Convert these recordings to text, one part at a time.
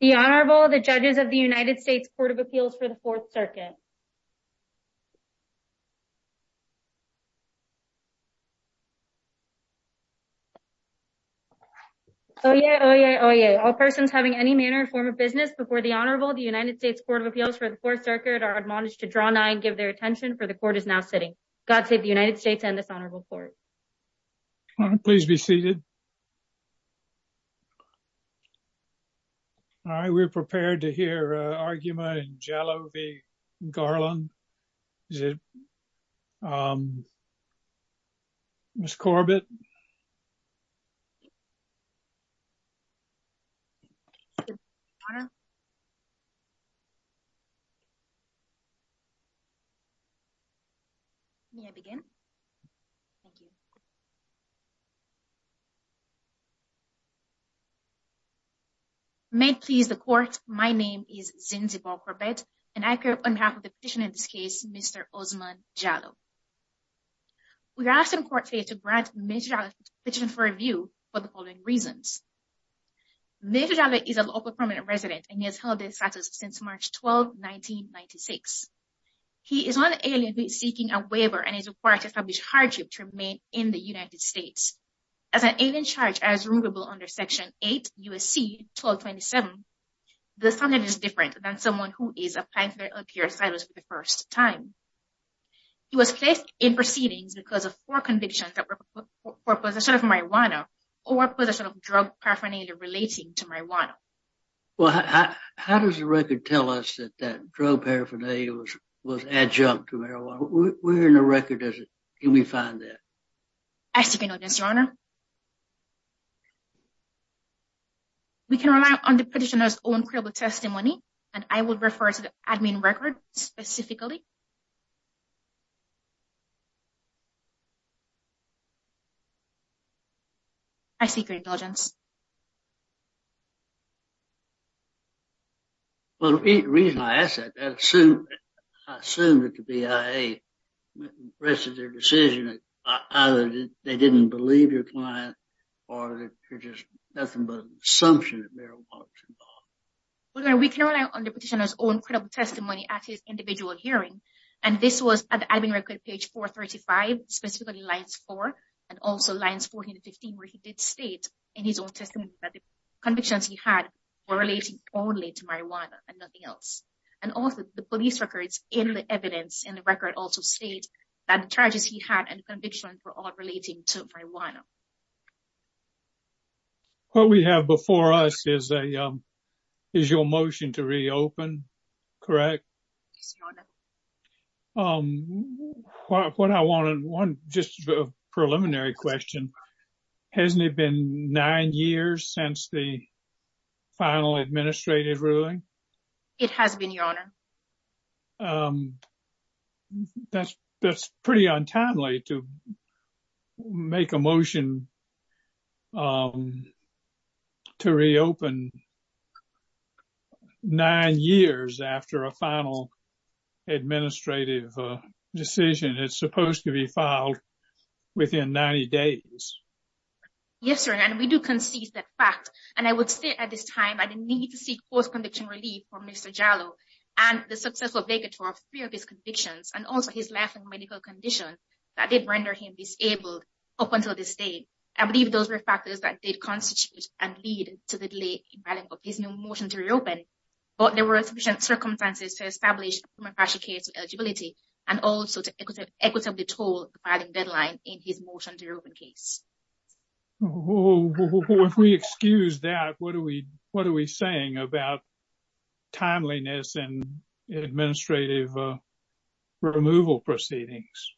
The Honorable, the judges of the United States Court of Appeals for the Fourth Circuit. Oh yeah, oh yeah, oh yeah. All persons having any manner or form of business before the Honorable, the United States Court of Appeals for the Fourth Circuit are admonished to draw nigh and give their attention for the Court is now sitting. God save the United States and this Honorable Court. Please be seated. All right, we're prepared to hear argument Jalloh v. Garland. Ms. Corbett. May I begin? Thank you. May it please the Court, my name is Zinzibar Corbett, and I occur on behalf of the petitioner in this case, Mr. Osman Jalloh. We are asking the Court today to grant Mr. Jalloh a petition for review for the following reasons. Mr. Jalloh is a local permanent resident and he has held this status since March 12, 1996. He is an alien who is seeking a waiver and is required to establish hardship to remain in the United States. As an alien charged as removable under Section 8 U.S.C. 1227, the sentence is different than someone who is applying for their unclear status for the first time. He was placed in proceedings because of four convictions for possession of marijuana or possession of drug paraphernalia relating to marijuana. Well, how does the record tell us that that drug paraphernalia was adjunct to marijuana? Where in the record can we find that? I seek your indulgence, Your Honor. We can rely on the petitioner's own credible testimony, and I will refer to the admin record specifically. I seek your indulgence. Well, the reason I ask that, I assume that the BIA rested their decision that either they didn't believe your client or there's just nothing but an assumption that marijuana was involved. Well, Your Honor, we can rely on the petitioner's own credible testimony at his individual hearing, and this was at the admin record, page 435, specifically lines 4 and also that the convictions he had were relating only to marijuana and nothing else. And also the police records in the evidence in the record also state that the charges he had and convictions were all relating to marijuana. What we have before us is your motion to reopen, correct? Yes, Your Honor. What I want, just a preliminary question, hasn't it been nine years since the final administrative ruling? It has been, Your Honor. That's pretty untimely to make a motion to reopen nine years after a final administrative decision. It's supposed to be filed within 90 days. Yes, Your Honor, and we do concede that fact, and I would say at this time I didn't need to seek post-conviction relief from Mr. Jarlow and the successful vacatur of three of his convictions and also his life and medical condition that did render him disabled up until this day. I believe those were factors that did constitute and lead to the delay in filing of his new motion to reopen, but there were sufficient circumstances to establish a premature case of eligibility and also to equitably toll the filing deadline in his motion to reopen case. If we excuse that, what are we saying about timeliness and administrative removal proceedings?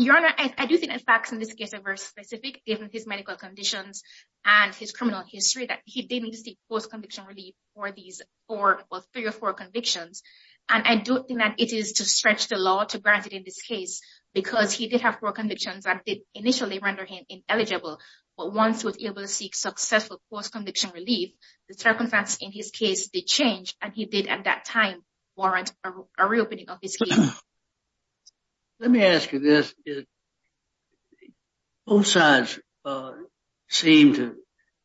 Your Honor, I do think the facts in this case are very specific given his medical conditions and his criminal history that he didn't seek post-conviction relief for these three or four convictions, and I don't think that it is to stretch the law to grant it in this case because he did have four convictions that did initially render him ineligible, but once he was able to seek successful post-conviction relief, the circumstances in his case did change, and he did at that time warrant a reopening of his case. Let me ask you this. Both sides seem to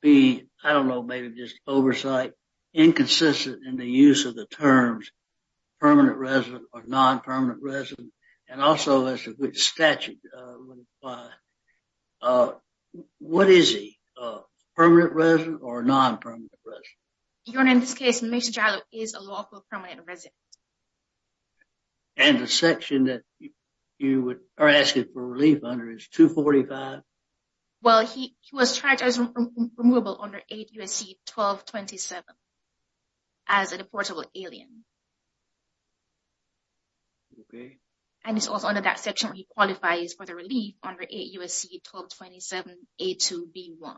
be, I don't know, maybe just oversight inconsistent in the use of the terms permanent resident or non-permanent resident and also as a good statute. What is he, a permanent resident or non-permanent resident? Your Honor, in this case, Mr. Giallo is a lawful permanent resident. And the section that you are asking for relief under is 245? Well, he was charged as removable under 8 U.S.C. 1227 as a deportable alien. Okay. And it's also under that section where he qualifies for the relief under 8 U.S.C. 1227, A2B1.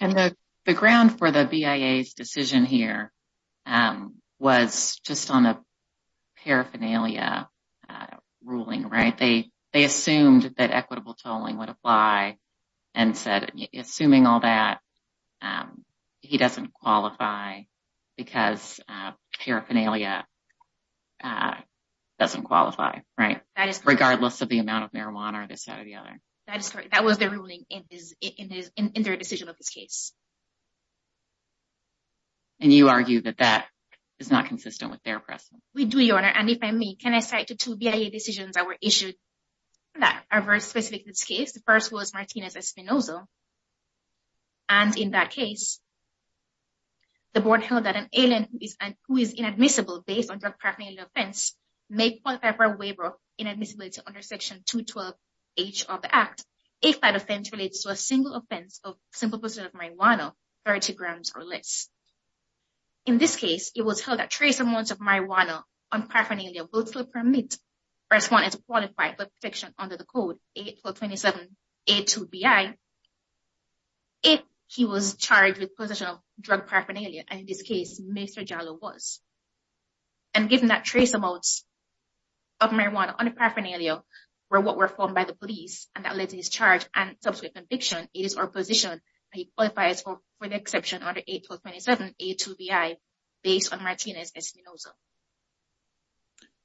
And the ground for the BIA's decision here was just on a paraphernalia ruling, right? They assumed that equitable tolling would apply and said, assuming all that, um, he doesn't qualify because paraphernalia doesn't qualify, right? That is correct. Regardless of the amount of marijuana or this side or the other. That is correct. That was the ruling in their decision of this case. And you argue that that is not consistent with their precedent? We do, Your Honor. And if I may, can I cite the two BIA decisions that were issued that are very specific to this case? The first was Martinez Espinoza and in that case, the board held that an alien who is inadmissible based on paraphernalia offense may qualify for a waiver of inadmissibility under Section 212H of the Act if that offense relates to a single offense of simple possession of marijuana, 30 grams or less. In this case, it was held that trace amounts of marijuana on paraphernalia will still permit respondents to qualify for protection under the code 81227A2BI if he was charged with possession of drug paraphernalia and in this case, Mr. Jallo was. And given that trace amounts of marijuana on paraphernalia were what were found by the police and that led to his charge and subsequent conviction, it is our position that he qualifies for the exception under 81227A2BI based on Martinez Espinoza.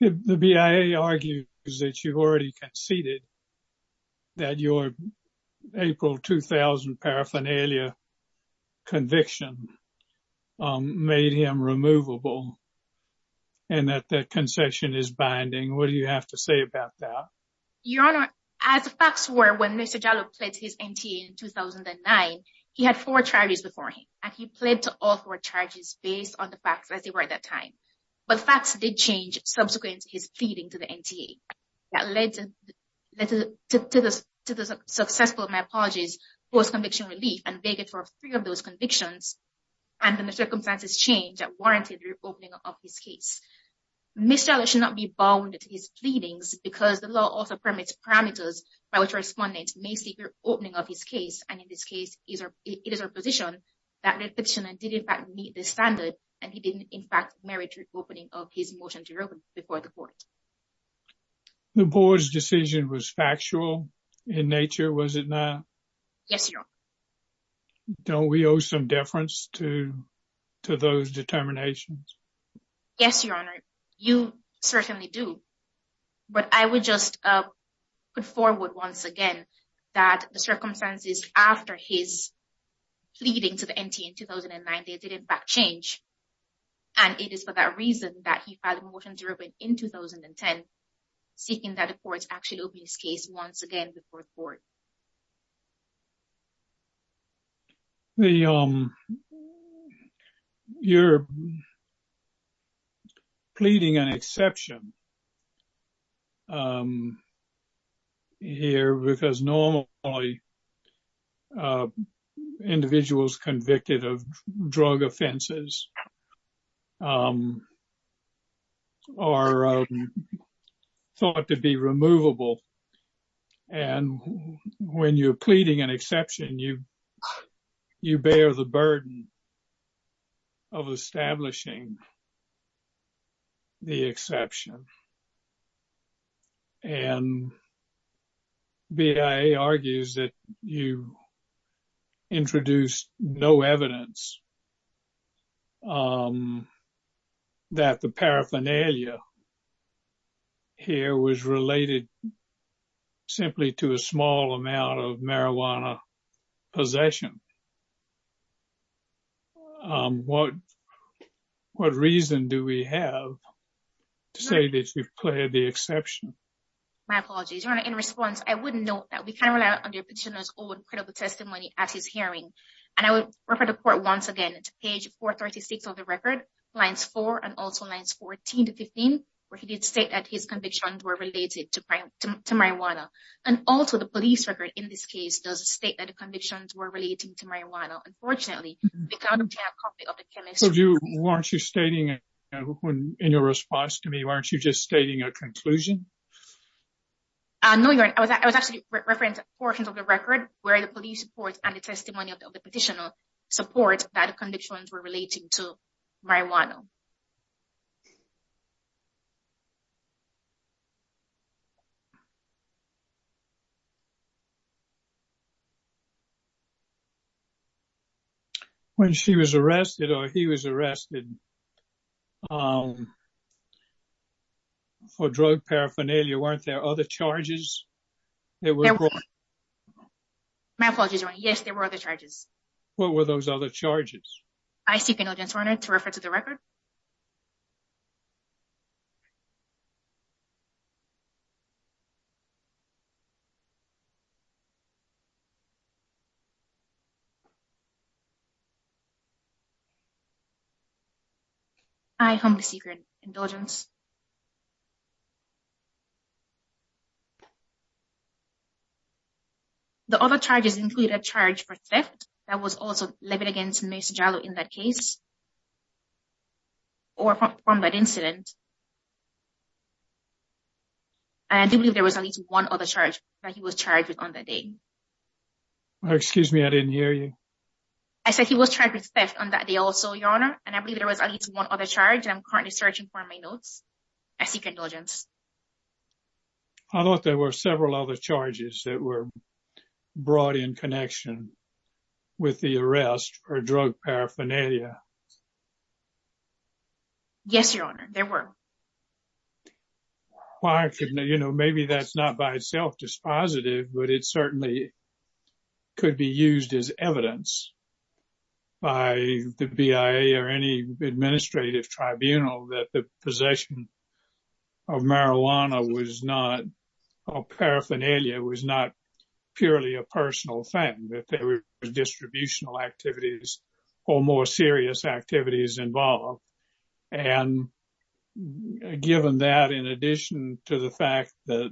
The BIA argues that you've already conceded that your April 2000 paraphernalia conviction made him removable and that the concession is binding. What do you have to say about that? Your Honor, as facts were when Mr. Jallo pledged his NTA in 2009, he had four charges before him and he pled to all four charges based on the facts as they were at that time. But facts did change subsequent to his pleading to the NTA that led to the successful, my apologies, post-conviction relief and begged for three of those convictions and the circumstances changed that warranted the reopening of his case. Mr. Jallo should not be bound to his pleadings because the law also permits parameters by which respondents may seek the reopening of his case and in this case, it is our position that the petitioner did in fact meet the standard and he did in fact merit the reopening of his motion to reopen before the court. The board's decision was factual in nature, was it not? Yes, Your Honor. Don't we owe some deference to those determinations? Yes, Your Honor, you certainly do. But I would just put forward once again that the circumstances after his pleading to the NTA in 2009, they did in fact change and it is for that reason that he filed a motion to reopen in 2010, seeking that the courts actually open his case once again before the court. You're pleading an exception here because normally individuals convicted of drug offenses are thought to be removable. And when you're pleading an exception, you bear the burden of establishing the exception. And BIA argues that you introduce no evidence that the paraphernalia here was related simply to a small amount of marijuana possession. What reason do we have to say that you've pleaded the exception? My apologies, Your Honor. In response, I would note that we can rely on the petitioner's own testimony at his hearing. And I would refer the court once again to page 436 of the record, lines 4 and also lines 14 to 15, where he did state that his convictions were related to marijuana. And also, the police record in this case does state that the convictions were related to marijuana. Unfortunately, the counterfeit copy of the chemist... Weren't you stating in your response to me, weren't you just stating a conclusion? No, Your Honor. I was actually referencing portions of the record where the police report and the testimony of the petitioner support that the convictions were related to marijuana. When she was arrested or he was arrested for drug paraphernalia, weren't there other charges? My apologies, Your Honor. Yes, there were other charges. What were those other charges? I seek indulgence, Your Honor, to refer to the record. I humbly seek your indulgence. The other charges include a charge for theft that was also levied against Ms. Jallo in that case or from that incident. And I do believe there was at least one other charge that he was charged with on that day. Excuse me, I didn't hear you. I said he was charged with theft on that day also, Your Honor. And I believe there was at least one other charge that I'm currently searching for in my notes. I seek indulgence. I thought there were several other charges that were brought in connection with the arrest for drug paraphernalia. Yes, Your Honor, there were. Maybe that's not by itself dispositive, but it certainly could be used as evidence by the BIA or any administrative tribunal that the possession of marijuana or paraphernalia was not purely a personal thing, that there were distributional activities or more serious activities involved. And given that, in addition to the fact that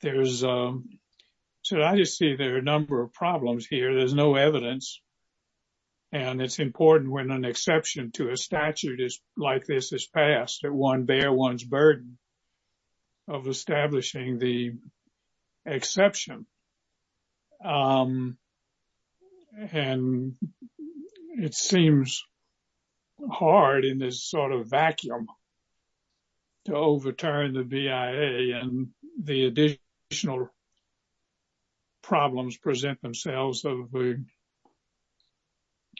there's, so I just see there are a number of problems here. There's no evidence. And it's important when an exception to a statute like this is passed, that one bear one's burden of establishing the exception. And it seems hard in this sort of vacuum to overturn the BIA. And the additional problems present themselves of a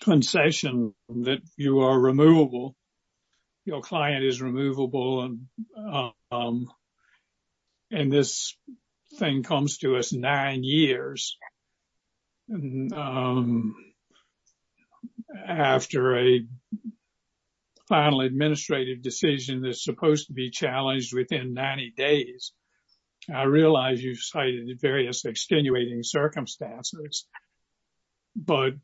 concession that you are removable. Your client is removable. And this thing comes to us nine years after a final administrative decision that's supposed to be challenged within 90 days. I realize you cited various extenuating circumstances, but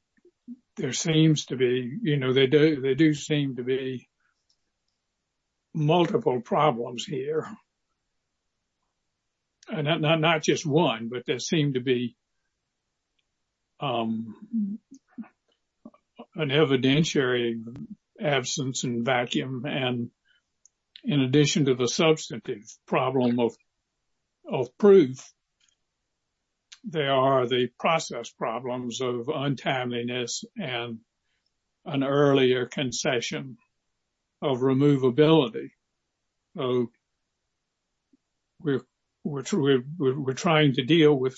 there seems to be, you know, they do seem to be multiple problems here. And not just one, but there seem to be an evidentiary absence and vacuum. And in addition to the substantive problem of proof, there are the process problems of untimeliness and an earlier concession of removability. So we're trying to deal with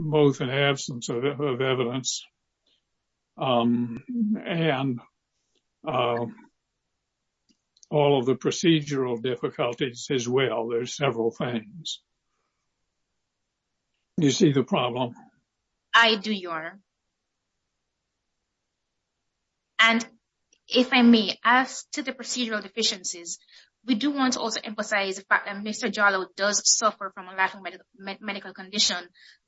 both an absence of evidence and all of the procedural difficulties as well. There's several things. You see the problem? I do, Your Honor. And if I may, as to the procedural deficiencies, we do want to also emphasize the fact that Mr. Jarlow does suffer from a life medical condition,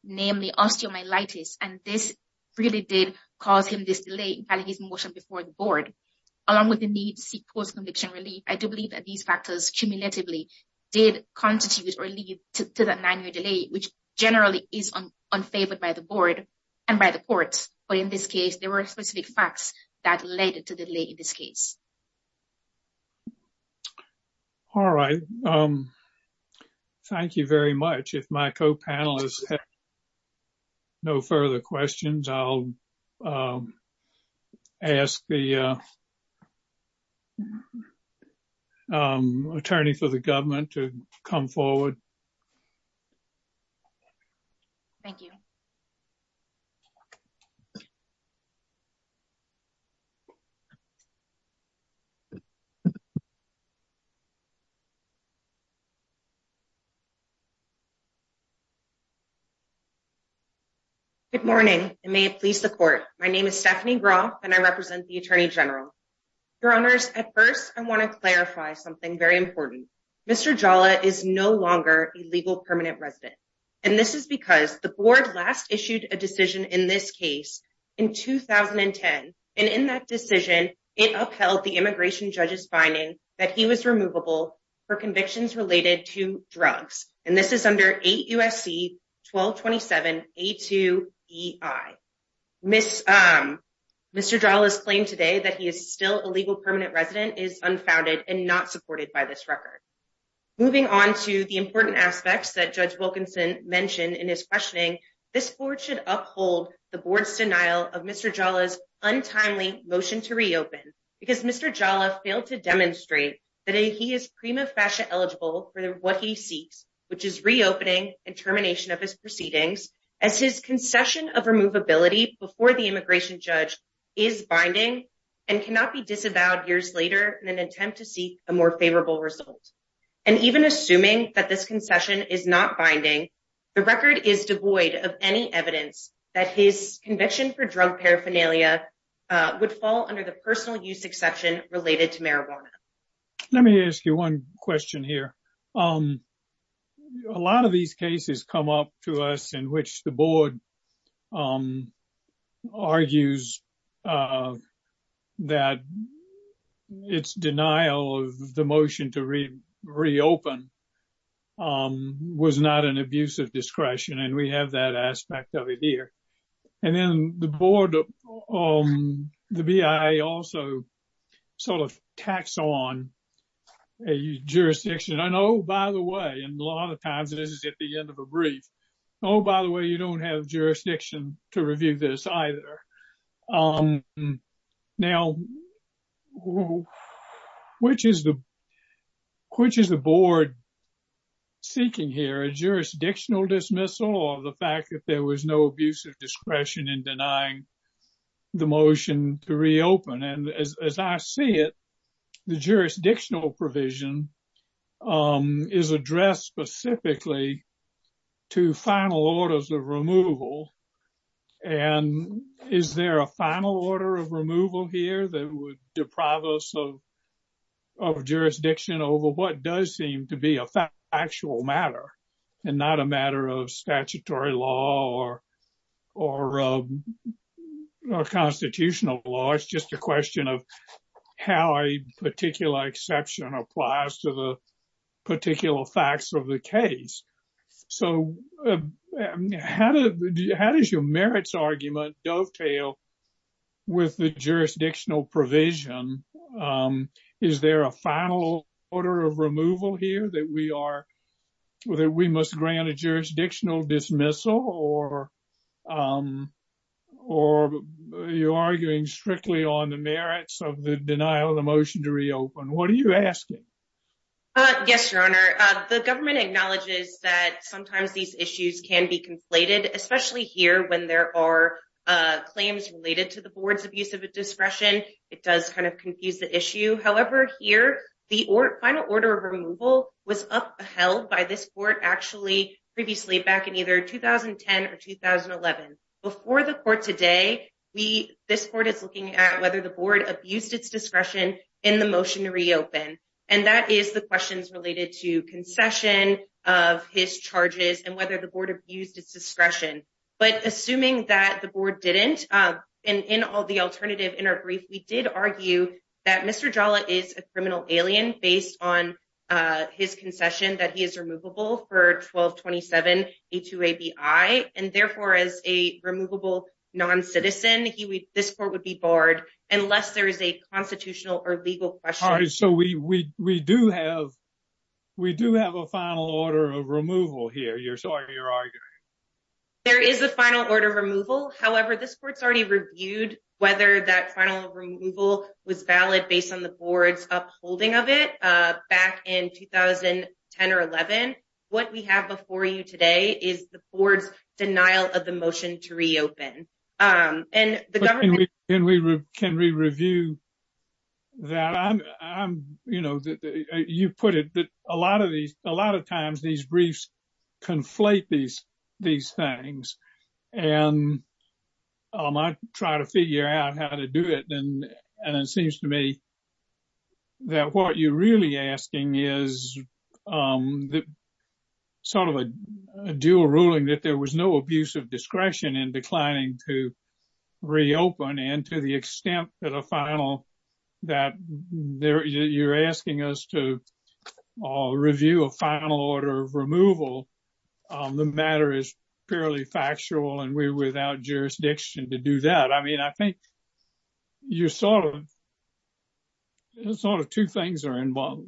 namely osteomyelitis. And this really did cause him this delay in filing his motion before the board. Along with the need to seek post-conviction relief, I do believe that these factors cumulatively did constitute or lead to the delay, which generally is unfavored by the board and by the courts. But in this case, there were specific facts that led to the delay in this case. All right. Thank you very much. If my co-panelists have no further questions, I'll ask the attorney for the government to come forward. Thank you. Good morning, and may it please the court. My name is Stephanie Graw, and I represent the Attorney General. Your Honors, at first, I want to clarify something very important. Mr. Jarlow is no longer a legal permanent resident. And this is because the board last issued a decision in this case in 2010. And in that decision, it upheld the immigration judge's finding that he was removable for convictions related to drugs. And this is under AUSC 1227A2EI. Mr. Jarlow's claim today that he is still a legal permanent resident is unfounded and not supported by this record. Moving on to the important aspects that Judge Uphold, the board's denial of Mr. Jarlow's untimely motion to reopen, because Mr. Jarlow failed to demonstrate that he is prima facie eligible for what he seeks, which is reopening and termination of his proceedings, as his concession of removability before the immigration judge is binding and cannot be disavowed years later in an attempt to seek a more favorable result. And even assuming that this concession is not binding, the record is devoid of any evidence that his conviction for drug paraphernalia would fall under the personal use exception related to marijuana. Let me ask you one question here. A lot of these cases come up to us in which the board argues that its denial of the motion to reopen was not an abuse of discretion. And we have that aspect of it here. And then the board, the BIA also sort of tacks on a jurisdiction. And oh, by the way, and a lot of times this is at the end of a brief, oh, by the way, you don't have jurisdiction to review this either. Now, which is the board seeking here, a jurisdictional dismissal or the fact that there was no abuse of discretion in denying the motion to reopen? And as I see it, the jurisdictional provision is addressed specifically to final orders of removal. And is there a final order of removal here that would deprive us of jurisdiction over what does seem to be a factual matter and not a matter of statutory law or constitutional law? It's just a particular exception applies to the particular facts of the case. So how does your merits argument dovetail with the jurisdictional provision? Is there a final order of removal here that we must grant a jurisdictional dismissal or you're arguing strictly on the merits of the denial of the motion to reopen? What are you asking? Yes, Your Honor. The government acknowledges that sometimes these issues can be conflated, especially here when there are claims related to the board's abuse of a discretion. It does kind of confuse the issue. However, here, the final order of removal was upheld by this court actually previously back in either 2010 or 2011. Before the court today, this court is looking at whether the board abused its discretion in the motion to reopen. And that is the questions related to concession of his charges and whether the board abused its discretion. But assuming that the board didn't, and in all the alternative in our brief, we did argue that Mr. Jala is a criminal alien based on his concession that he is a removable non-citizen. He would, this court would be barred unless there is a constitutional or legal question. So we do have a final order of removal here. You're sorry, you're arguing. There is a final order of removal. However, this court's already reviewed whether that final removal was valid based on the board's upholding of it back in 2010 or 11. What we have before you today is the board's denial of the motion to reopen. And the government- Can we review that? You know, you put it that a lot of these, a lot of times these briefs conflate these things. And I try to figure out how to do it. And it seems to me that what you're really asking is sort of a dual ruling that there was no abuse of discretion in declining to reopen. And to the extent that a final, that you're asking us to review a final order of removal, the matter is fairly factual and we're without jurisdiction to do that. I mean, I think you're sort of, sort of two things are involved,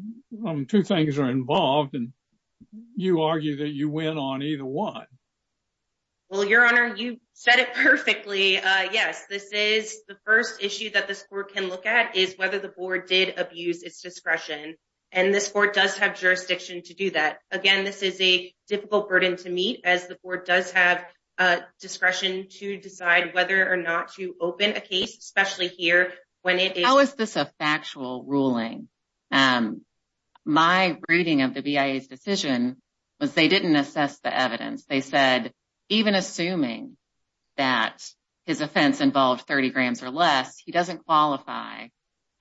two things are involved and you argue that you went on either one. Well, Your Honor, you said it perfectly. Yes, this is the first issue that this court can look at is whether the board did abuse its discretion. And this court does have jurisdiction to do that. Again, this is a difficult burden to meet as the board does have discretion to decide whether or not to open a case, especially here when it- How is this a factual ruling? My reading of the BIA's decision was they didn't assess the evidence. They said, even assuming that his offense involved 30 grams or less, he doesn't qualify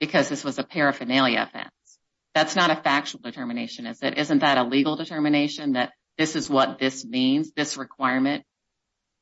because this was a paraphernalia offense. That's not a factual determination, is it? Isn't that a legal determination that this is what this means? This requirement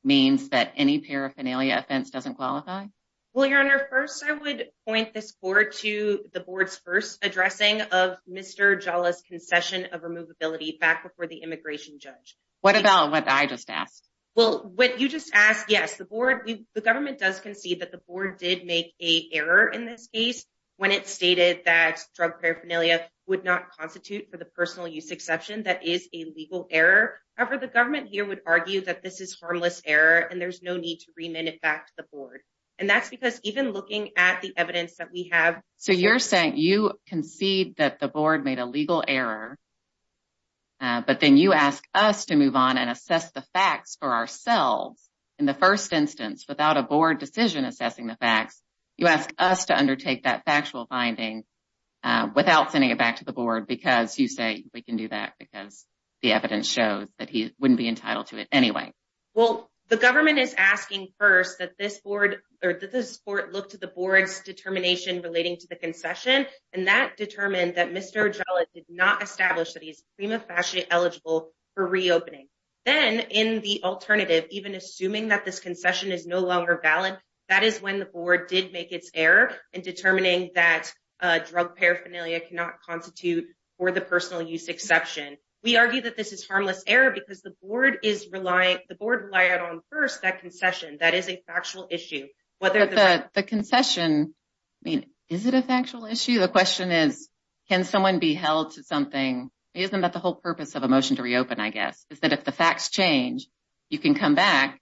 means that any paraphernalia offense doesn't qualify? Well, Your Honor, first I would point this court to the board's first addressing of Mr. Jala's concession of removability back before the immigration judge. What about what I just asked? Well, what you just asked, yes, the board, the government does concede that the board did make a error in this case when it stated that drug paraphernalia would not constitute for the personal use exception, that is a legal error. However, the government here would argue that this is harmless error and there's no need to remit it back to the board. And that's because even looking at the evidence that we have- So you're saying you concede that the board made a legal error, but then you ask us to move on and assess the facts for ourselves. In the first instance, without a board decision assessing the facts, you ask us to undertake that factual finding without sending it back to the board because you say we can do that because the evidence shows that he wouldn't be entitled to it anyway. Well, the government is asking first that this court look to the board's determination relating to the concession and that determined that Mr. Jala did not establish that he's prima facie eligible for reopening. Then in the longer ballot, that is when the board did make its error in determining that drug paraphernalia cannot constitute for the personal use exception. We argue that this is harmless error because the board relied on first that concession, that is a factual issue. The concession, I mean, is it a factual issue? The question is, can someone be held to something? Isn't that the whole purpose of a motion to reopen, I guess, is that if the facts change, you can come back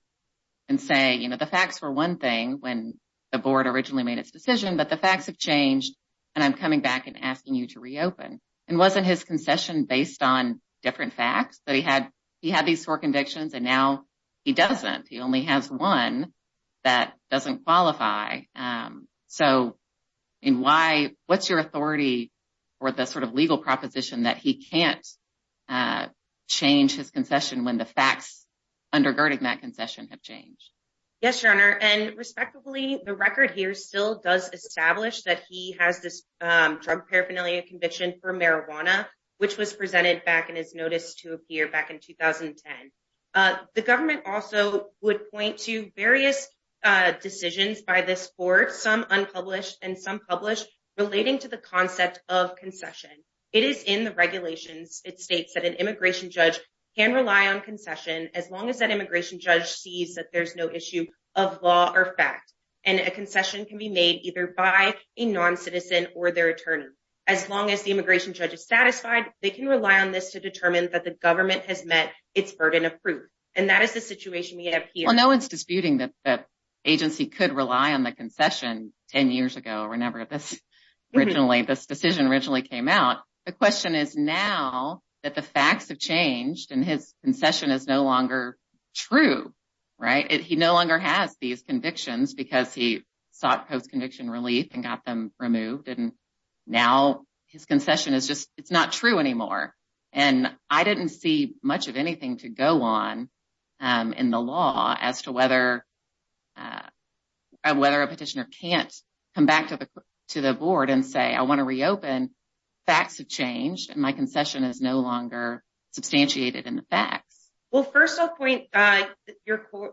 and say, you know, the facts were one thing when the board originally made its decision, but the facts have changed and I'm coming back and asking you to reopen. And wasn't his concession based on different facts that he had? He had these four convictions and now he doesn't. He only has one that doesn't qualify. So, I mean, why, what's your authority or the sort of legal proposition that he can't change his concession when the facts undergirding that concession have changed? Yes, your honor. And respectively, the record here still does establish that he has this drug paraphernalia conviction for marijuana, which was presented back in his notice to appear back in 2010. The government also would point to various decisions by this board, some unpublished and some published, relating to the concept of concession. It is in the regulations. It states that an immigration judge can rely on concession as long as that immigration judge sees that there's no issue of law or fact. And a concession can be made either by a non-citizen or their attorney. As long as the immigration judge is satisfied, they can rely on this to determine that the government has met its burden of proof. And that is the situation we have here. No one's disputing that the agency could rely on the concession 10 years ago, whenever this decision originally came out. The question is now that the facts have changed and his concession is no longer true, right? He no longer has these convictions because he sought post-conviction relief and got them removed. And now his concession is just, it's not true anymore. And I didn't see much of anything to go on in the law as to whether a petitioner can't come back to the board and say, I want to reopen. Facts have changed and my concession is no longer substantiated in the facts. Well, first I'll point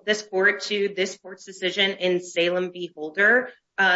this board to this court's decision in Salem v. Holder.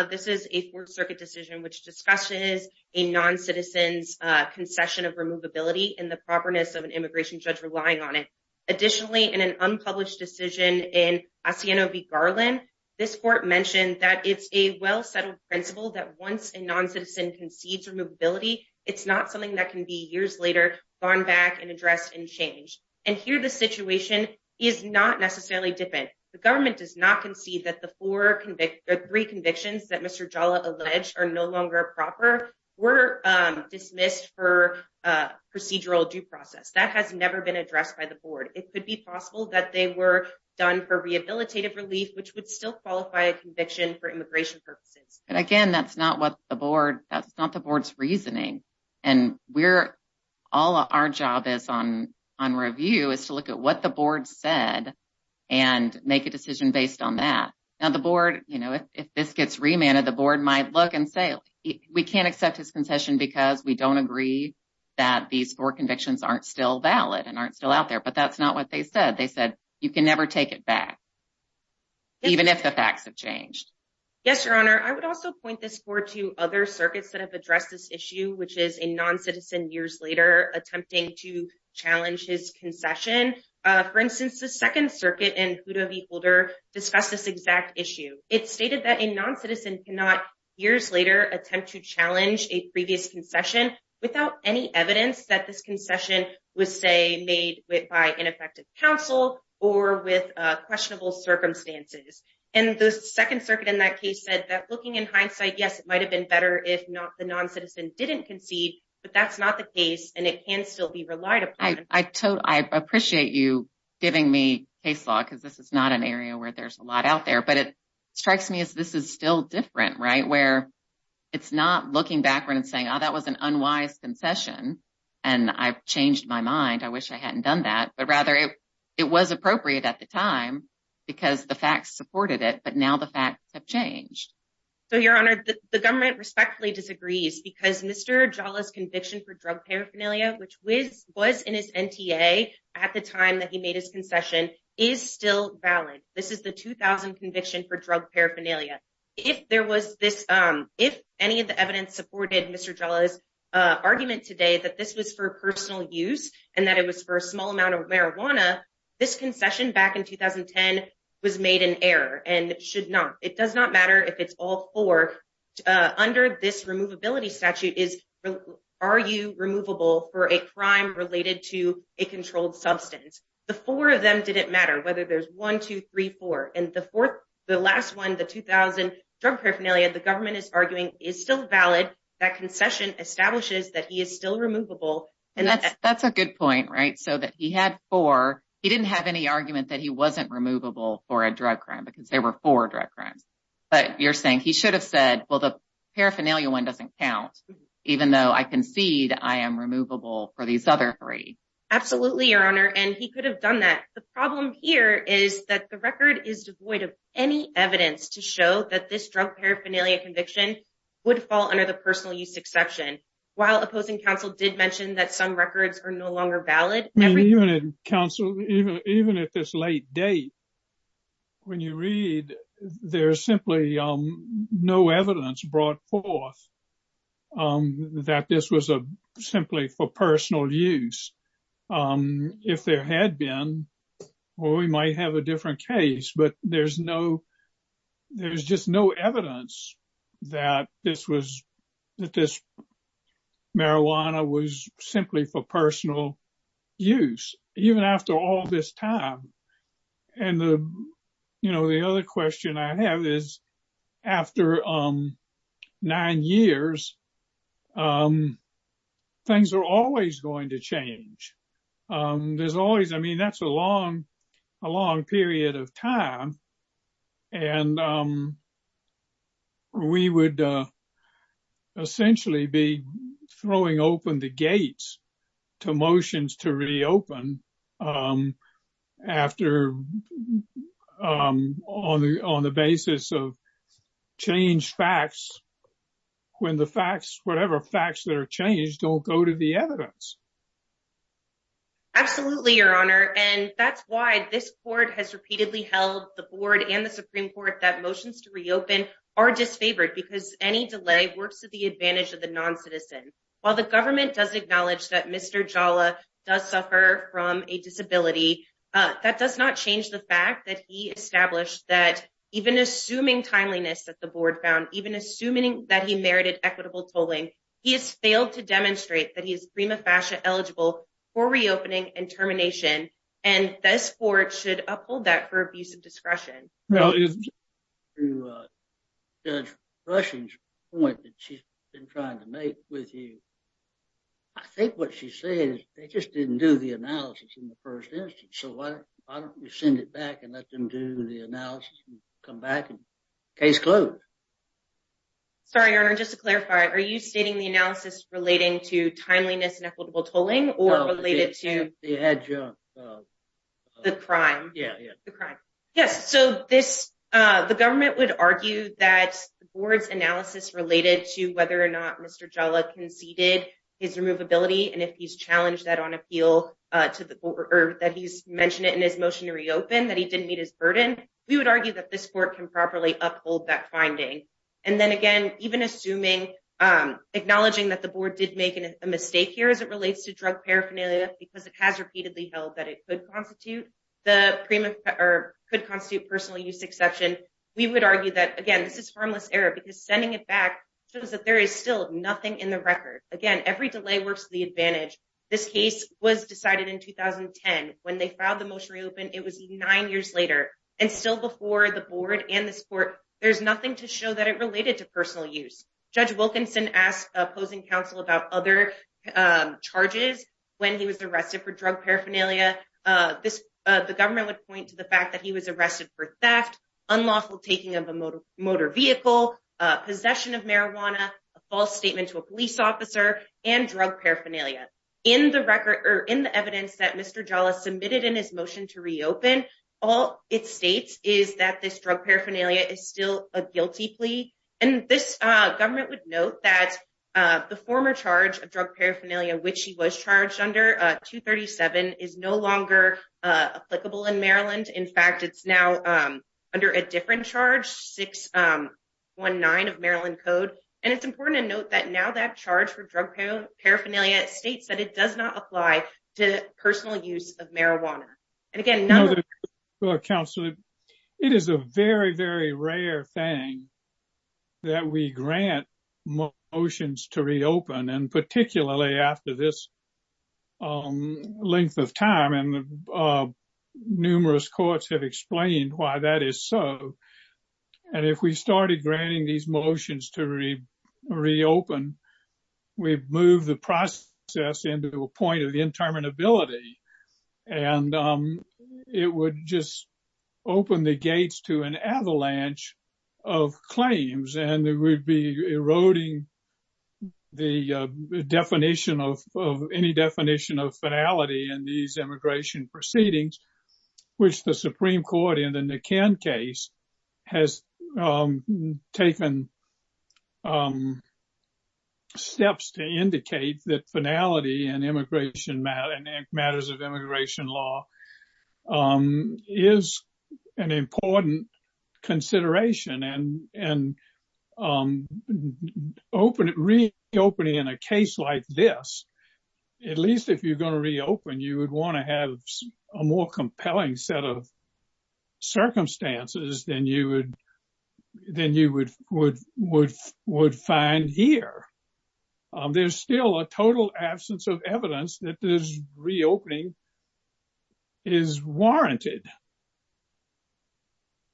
This is a fourth circuit decision which discusses a non-citizen's concession of removability and the properness of an immigration judge relying on it. Additionally, in an unpublished decision in Asiano v. Garland, this court mentioned that it's a well-settled principle that once a non-citizen concedes removability, it's not something that can be years later gone back and addressed and changed. And here the situation is not necessarily different. The government does not concede that the three convictions that Mr. Jala alleged are no longer proper were dismissed for a procedural due process. That has never been addressed by the board. It could be possible that they were done for rehabilitative relief, which would still qualify a conviction for immigration purposes. And again, that's not the board's reasoning. And all our job is on review is to look at what the board said and make a decision based on that. Now the board, you know, if this gets remanded, the board might look and say, we can't accept his concession because we don't agree that these four convictions aren't still valid and aren't still out there. But that's not what they said. They said you can never take it back even if the facts have changed. Yes, Your Honor. I would also point this forward to other circuits that have addressed this issue, which is a non-citizen years later attempting to It stated that a non-citizen cannot years later attempt to challenge a previous concession without any evidence that this concession was say made by ineffective counsel or with questionable circumstances. And the second circuit in that case said that looking in hindsight, yes, it might've been better if not the non-citizen didn't concede, but that's not the case and it can still be relied upon. I appreciate you giving me case law because this is not an area where there's a lot out there, but it strikes me as this is still different, right? Where it's not looking backward and saying, oh, that was an unwise concession and I've changed my mind. I wish I hadn't done that, but rather it was appropriate at the time because the facts supported it, but now the facts have changed. So Your Honor, the government respectfully disagrees because Mr. Jala's conviction for drug paraphernalia, which was in his NTA at the time he made his concession, is still valid. This is the 2000 conviction for drug paraphernalia. If any of the evidence supported Mr. Jala's argument today that this was for personal use and that it was for a small amount of marijuana, this concession back in 2010 was made in error and should not. It does not matter if it's all four. Under this removability statute is, are you removable for a crime related to a controlled substance? The four of them didn't matter whether there's one, two, three, four. And the last one, the 2000 drug paraphernalia, the government is arguing is still valid. That concession establishes that he is still removable. And that's a good point, right? So that he had four. He didn't have any argument that he wasn't removable for a drug crime because there were four drug crimes. But you're saying he should have said, well, the paraphernalia one doesn't count, even though I concede I am removable for these other three. Absolutely, Your Honor. And he could have done that. The problem here is that the record is devoid of any evidence to show that this drug paraphernalia conviction would fall under the personal use exception. While opposing counsel did mention that some records are no longer valid. Counsel, even at this late date, when you read, there's simply no evidence brought forth that this was simply for personal use. If there had been, well, we might have a different case, but there's just no evidence that this marijuana was simply for personal use, even after all this time. And the other question I have is after nine years, things are always going to change. There's always, I mean, that's a long period of time. And we would essentially be throwing open the gates to motions to reopen after, on the basis of changed facts, when the facts, whatever facts that are changed, don't go to the evidence. Absolutely, Your Honor. And that's why this court has repeatedly held the board and the Supreme Court that motions to reopen are disfavored because any delay works to the advantage of the non-citizen. While the government does acknowledge that Mr. Jala does suffer from a disability, that does not change the fact that he established that even assuming timeliness that the board found, even assuming that he merited equitable tolling, he has failed to demonstrate that he is prima facie eligible for reopening and termination. And this court should uphold that for abuse of discretion. Now, to Judge Rushing's point that she's been trying to make with you, I think what she's saying is they just didn't do the analysis in the first instance. So, why don't you send it back and let them do the analysis and come back and case closed? Sorry, Your Honor. Just to clarify, are you stating the analysis relating to timeliness and equitable tolling or related to the crime? Yes. So, the government would argue that the board's analysis related to whether or not Mr. Jala conceded his removability and if he's challenged that on appeal to the court or that he's mentioned it in his motion to reopen that he didn't meet his burden, we would argue that this court can properly uphold that finding. And then again, even assuming, acknowledging that the board did make a mistake here as it relates to drug paraphernalia because it has repeatedly held that it could constitute personal use exception, we would argue that, again, this is harmless error because sending it back shows that there is still nothing in the record. Again, every delay works to the advantage. This case was decided in 2010. When they filed the motion to reopen, it was nine years later. And still before the board and this court, there's nothing to show that it related to personal use. Judge Wilkinson asked opposing counsel about other charges when he was arrested for drug paraphernalia. The government would point to the fact that he was arrested for theft, unlawful taking of a motor vehicle, possession of marijuana, a false statement to a police officer, and drug paraphernalia. In the evidence that Mr. Jala submitted in his motion to reopen, all it states is that this drug paraphernalia is still a guilty plea. And this government would note that the former charge of drug paraphernalia, which he was charged under, 237, is no longer applicable in Maryland. In fact, it's now under a different charge, 619 of Maryland Code. And it's important to note that now that charge for drug paraphernalia states that it does not apply. Counsel, it is a very, very rare thing that we grant motions to reopen, and particularly after this length of time. And numerous courts have explained why that is so. And if we started granting these motions to reopen, we've moved the process into a point of interminability. And it would just open the gates to an avalanche of claims, and it would be eroding any definition of finality in these immigration proceedings, which the Supreme Court in the law is an important consideration. And reopening in a case like this, at least if you're going to reopen, you would want to have a more compelling set of circumstances than you would find here. There's still a total absence of evidence that this reopening is warranted.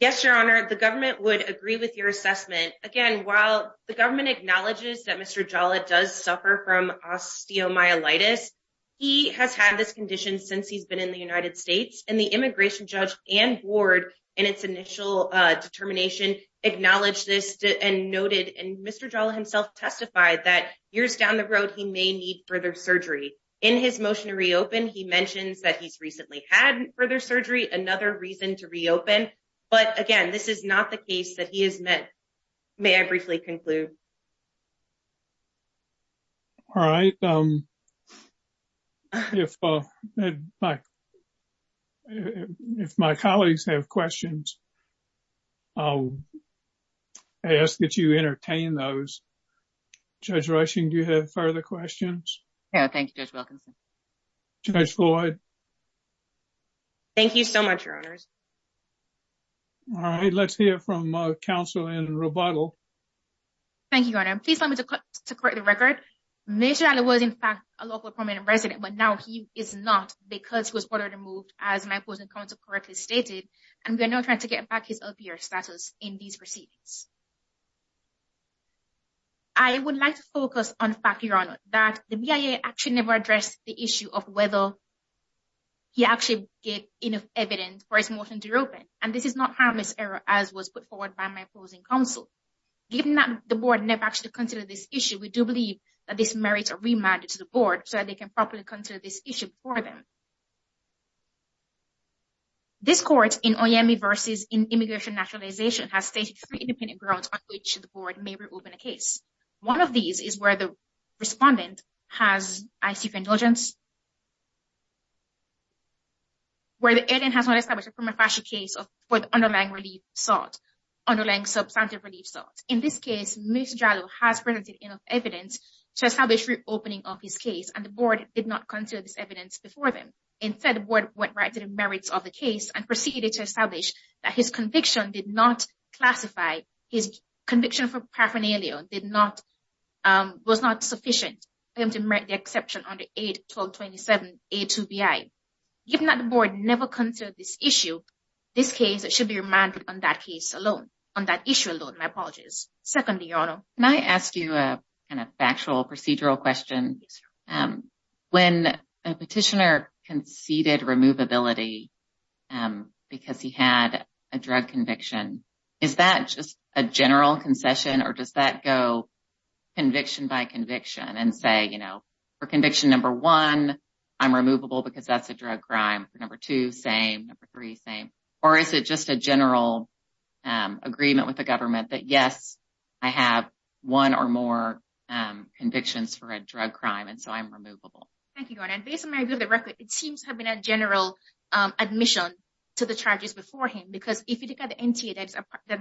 Yes, Your Honor, the government would agree with your assessment. Again, while the government acknowledges that Mr. Jala does suffer from osteomyelitis, he has had this condition since he's been in the United States. And the immigration judge and board in its initial determination acknowledged this and noted, and Mr. Jala himself testified that years down the road, he may need further surgery. In his motion to reopen, he mentions that he's recently had further surgery, another reason to reopen. But again, this is not the case that he has met. May I briefly conclude? All right. If my colleagues have questions, I'll ask that you entertain those. Judge Rushing, do you have further questions? Yeah, thank you, Judge Wilkinson. Judge Floyd? Thank you so much, Your Honors. All right, let's hear from counsel in Roboto. Thank you, Your Honor. Please allow me to correct the record. Mr. Jala was, in fact, a local permanent resident, but now he is not because he was ordered removed, as my opposing counsel correctly stated, and we are now trying to get back his LPR status in these proceedings. I would like to focus on the fact, Your Honor, that the BIA actually never addressed the issue of whether he actually gave enough evidence for his motion to reopen. And this is not harmless error as was put forward by my opposing counsel. Given that the board never actually considered this issue, we do believe that this merits a remand to the board so that they can properly consider this issue before them. This court in Oyemi versus in immigration naturalization has stated three independent grounds on which the board may reopen a case. One of these is where the respondent has ICP indulgence, where the alien has not established a prima facie case for the underlying relief sought, underlying substantive relief sought. In this case, Mr. Jala has presented enough evidence to establish reopening of his case, and the board did not consider this evidence before them. Instead, the board went right to the merits of the case and proceeded to establish that his conviction did not classify, his conviction for paraphernalia did not, was not sufficient to make the exception under 81227A2BI. Given that the board never considered this issue, this case should be remanded on that case alone, on that issue alone. My apologies. Secondly, Your Honor. Can I ask you a kind of factual procedural question? When a petitioner conceded removability because he had a drug conviction, is that just a general concession, or does that go conviction by conviction and say, you know, for conviction number one, I'm removable because that's a drug crime, number two, same, number three, same, or is it just a general agreement with the government that, yes, I have one or more convictions for a drug crime, and so I'm removable? Thank you, Your Honor. Based on my review of the record, it seems to have been a general admission to the charges before him, because if you look at the NTA,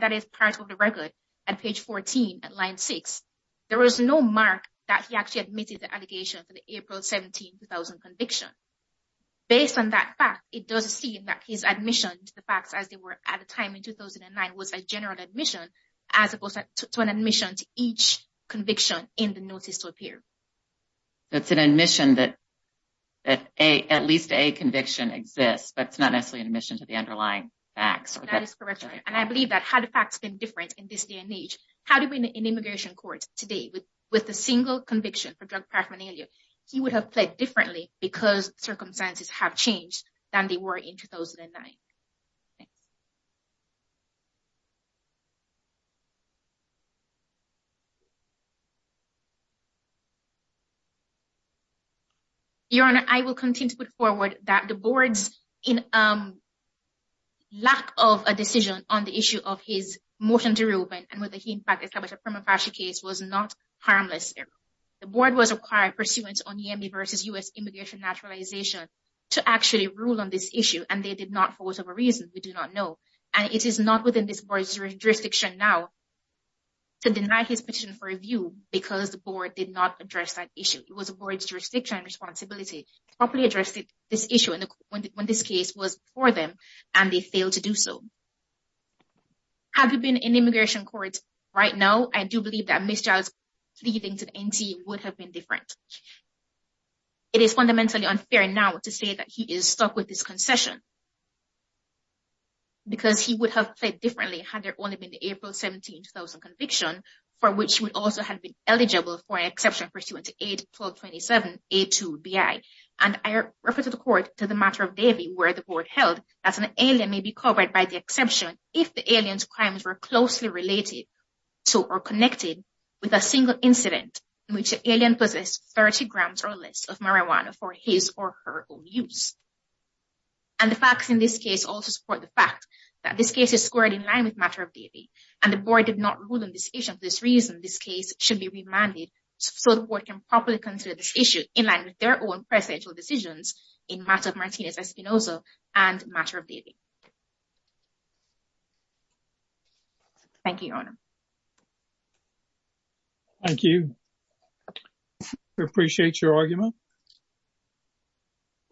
that is part of the record at page 14, at line 6. There was no mark that he actually admitted the allegation for the April 17, 2000 conviction. Based on that fact, it does seem that his admission to the facts as they were at the time in 2009 was a general admission, as opposed to an admission to each conviction in the notice to appear. That's an admission that at least a conviction exists, but it's not necessarily an admission to the underlying facts. That is correct, Your Honor, and I believe that had the facts been different in this day and age, how do we, in immigration courts today, with a single conviction for drug paraphernalia, he would have pled differently because circumstances have changed than they were in 2009. Your Honor, I will continue to put forward that the board's lack of a decision on the issue of his motion to reopen and whether he, in fact, was not harmless. The board was required pursuant on YEMI versus U.S. immigration naturalization to actually rule on this issue, and they did not for whatever reason. We do not know, and it is not within this board's jurisdiction now to deny his petition for review because the board did not address that issue. It was the board's jurisdiction and responsibility to properly address this issue when this case was before them, and they failed to do so. Have you been in immigration courts right now? I do believe that Ms. Giles pleading to the NTA would have been different. It is fundamentally unfair now to say that he is stuck with this concession because he would have pled differently had there only been the April 17, 2000 conviction, for which he would also have been eligible for an exception pursuant to AID 1227-A2-BI, and I refer to the court to the matter of Davie where the court held that an alien may be covered by the exception if the alien's crimes were closely related to or connected with a single incident in which the alien possessed 30 grams or less of marijuana for his or her own use. And the facts in this case also support the fact that this case is squared in line with matter of Davie, and the board did not rule on this issue, and for this reason this case should be remanded so the board can properly consider this issue in line with their own presidential decisions in matter of Martinez-Espinosa and matter of Davie. Thank you, your honor. Thank you. We appreciate your argument.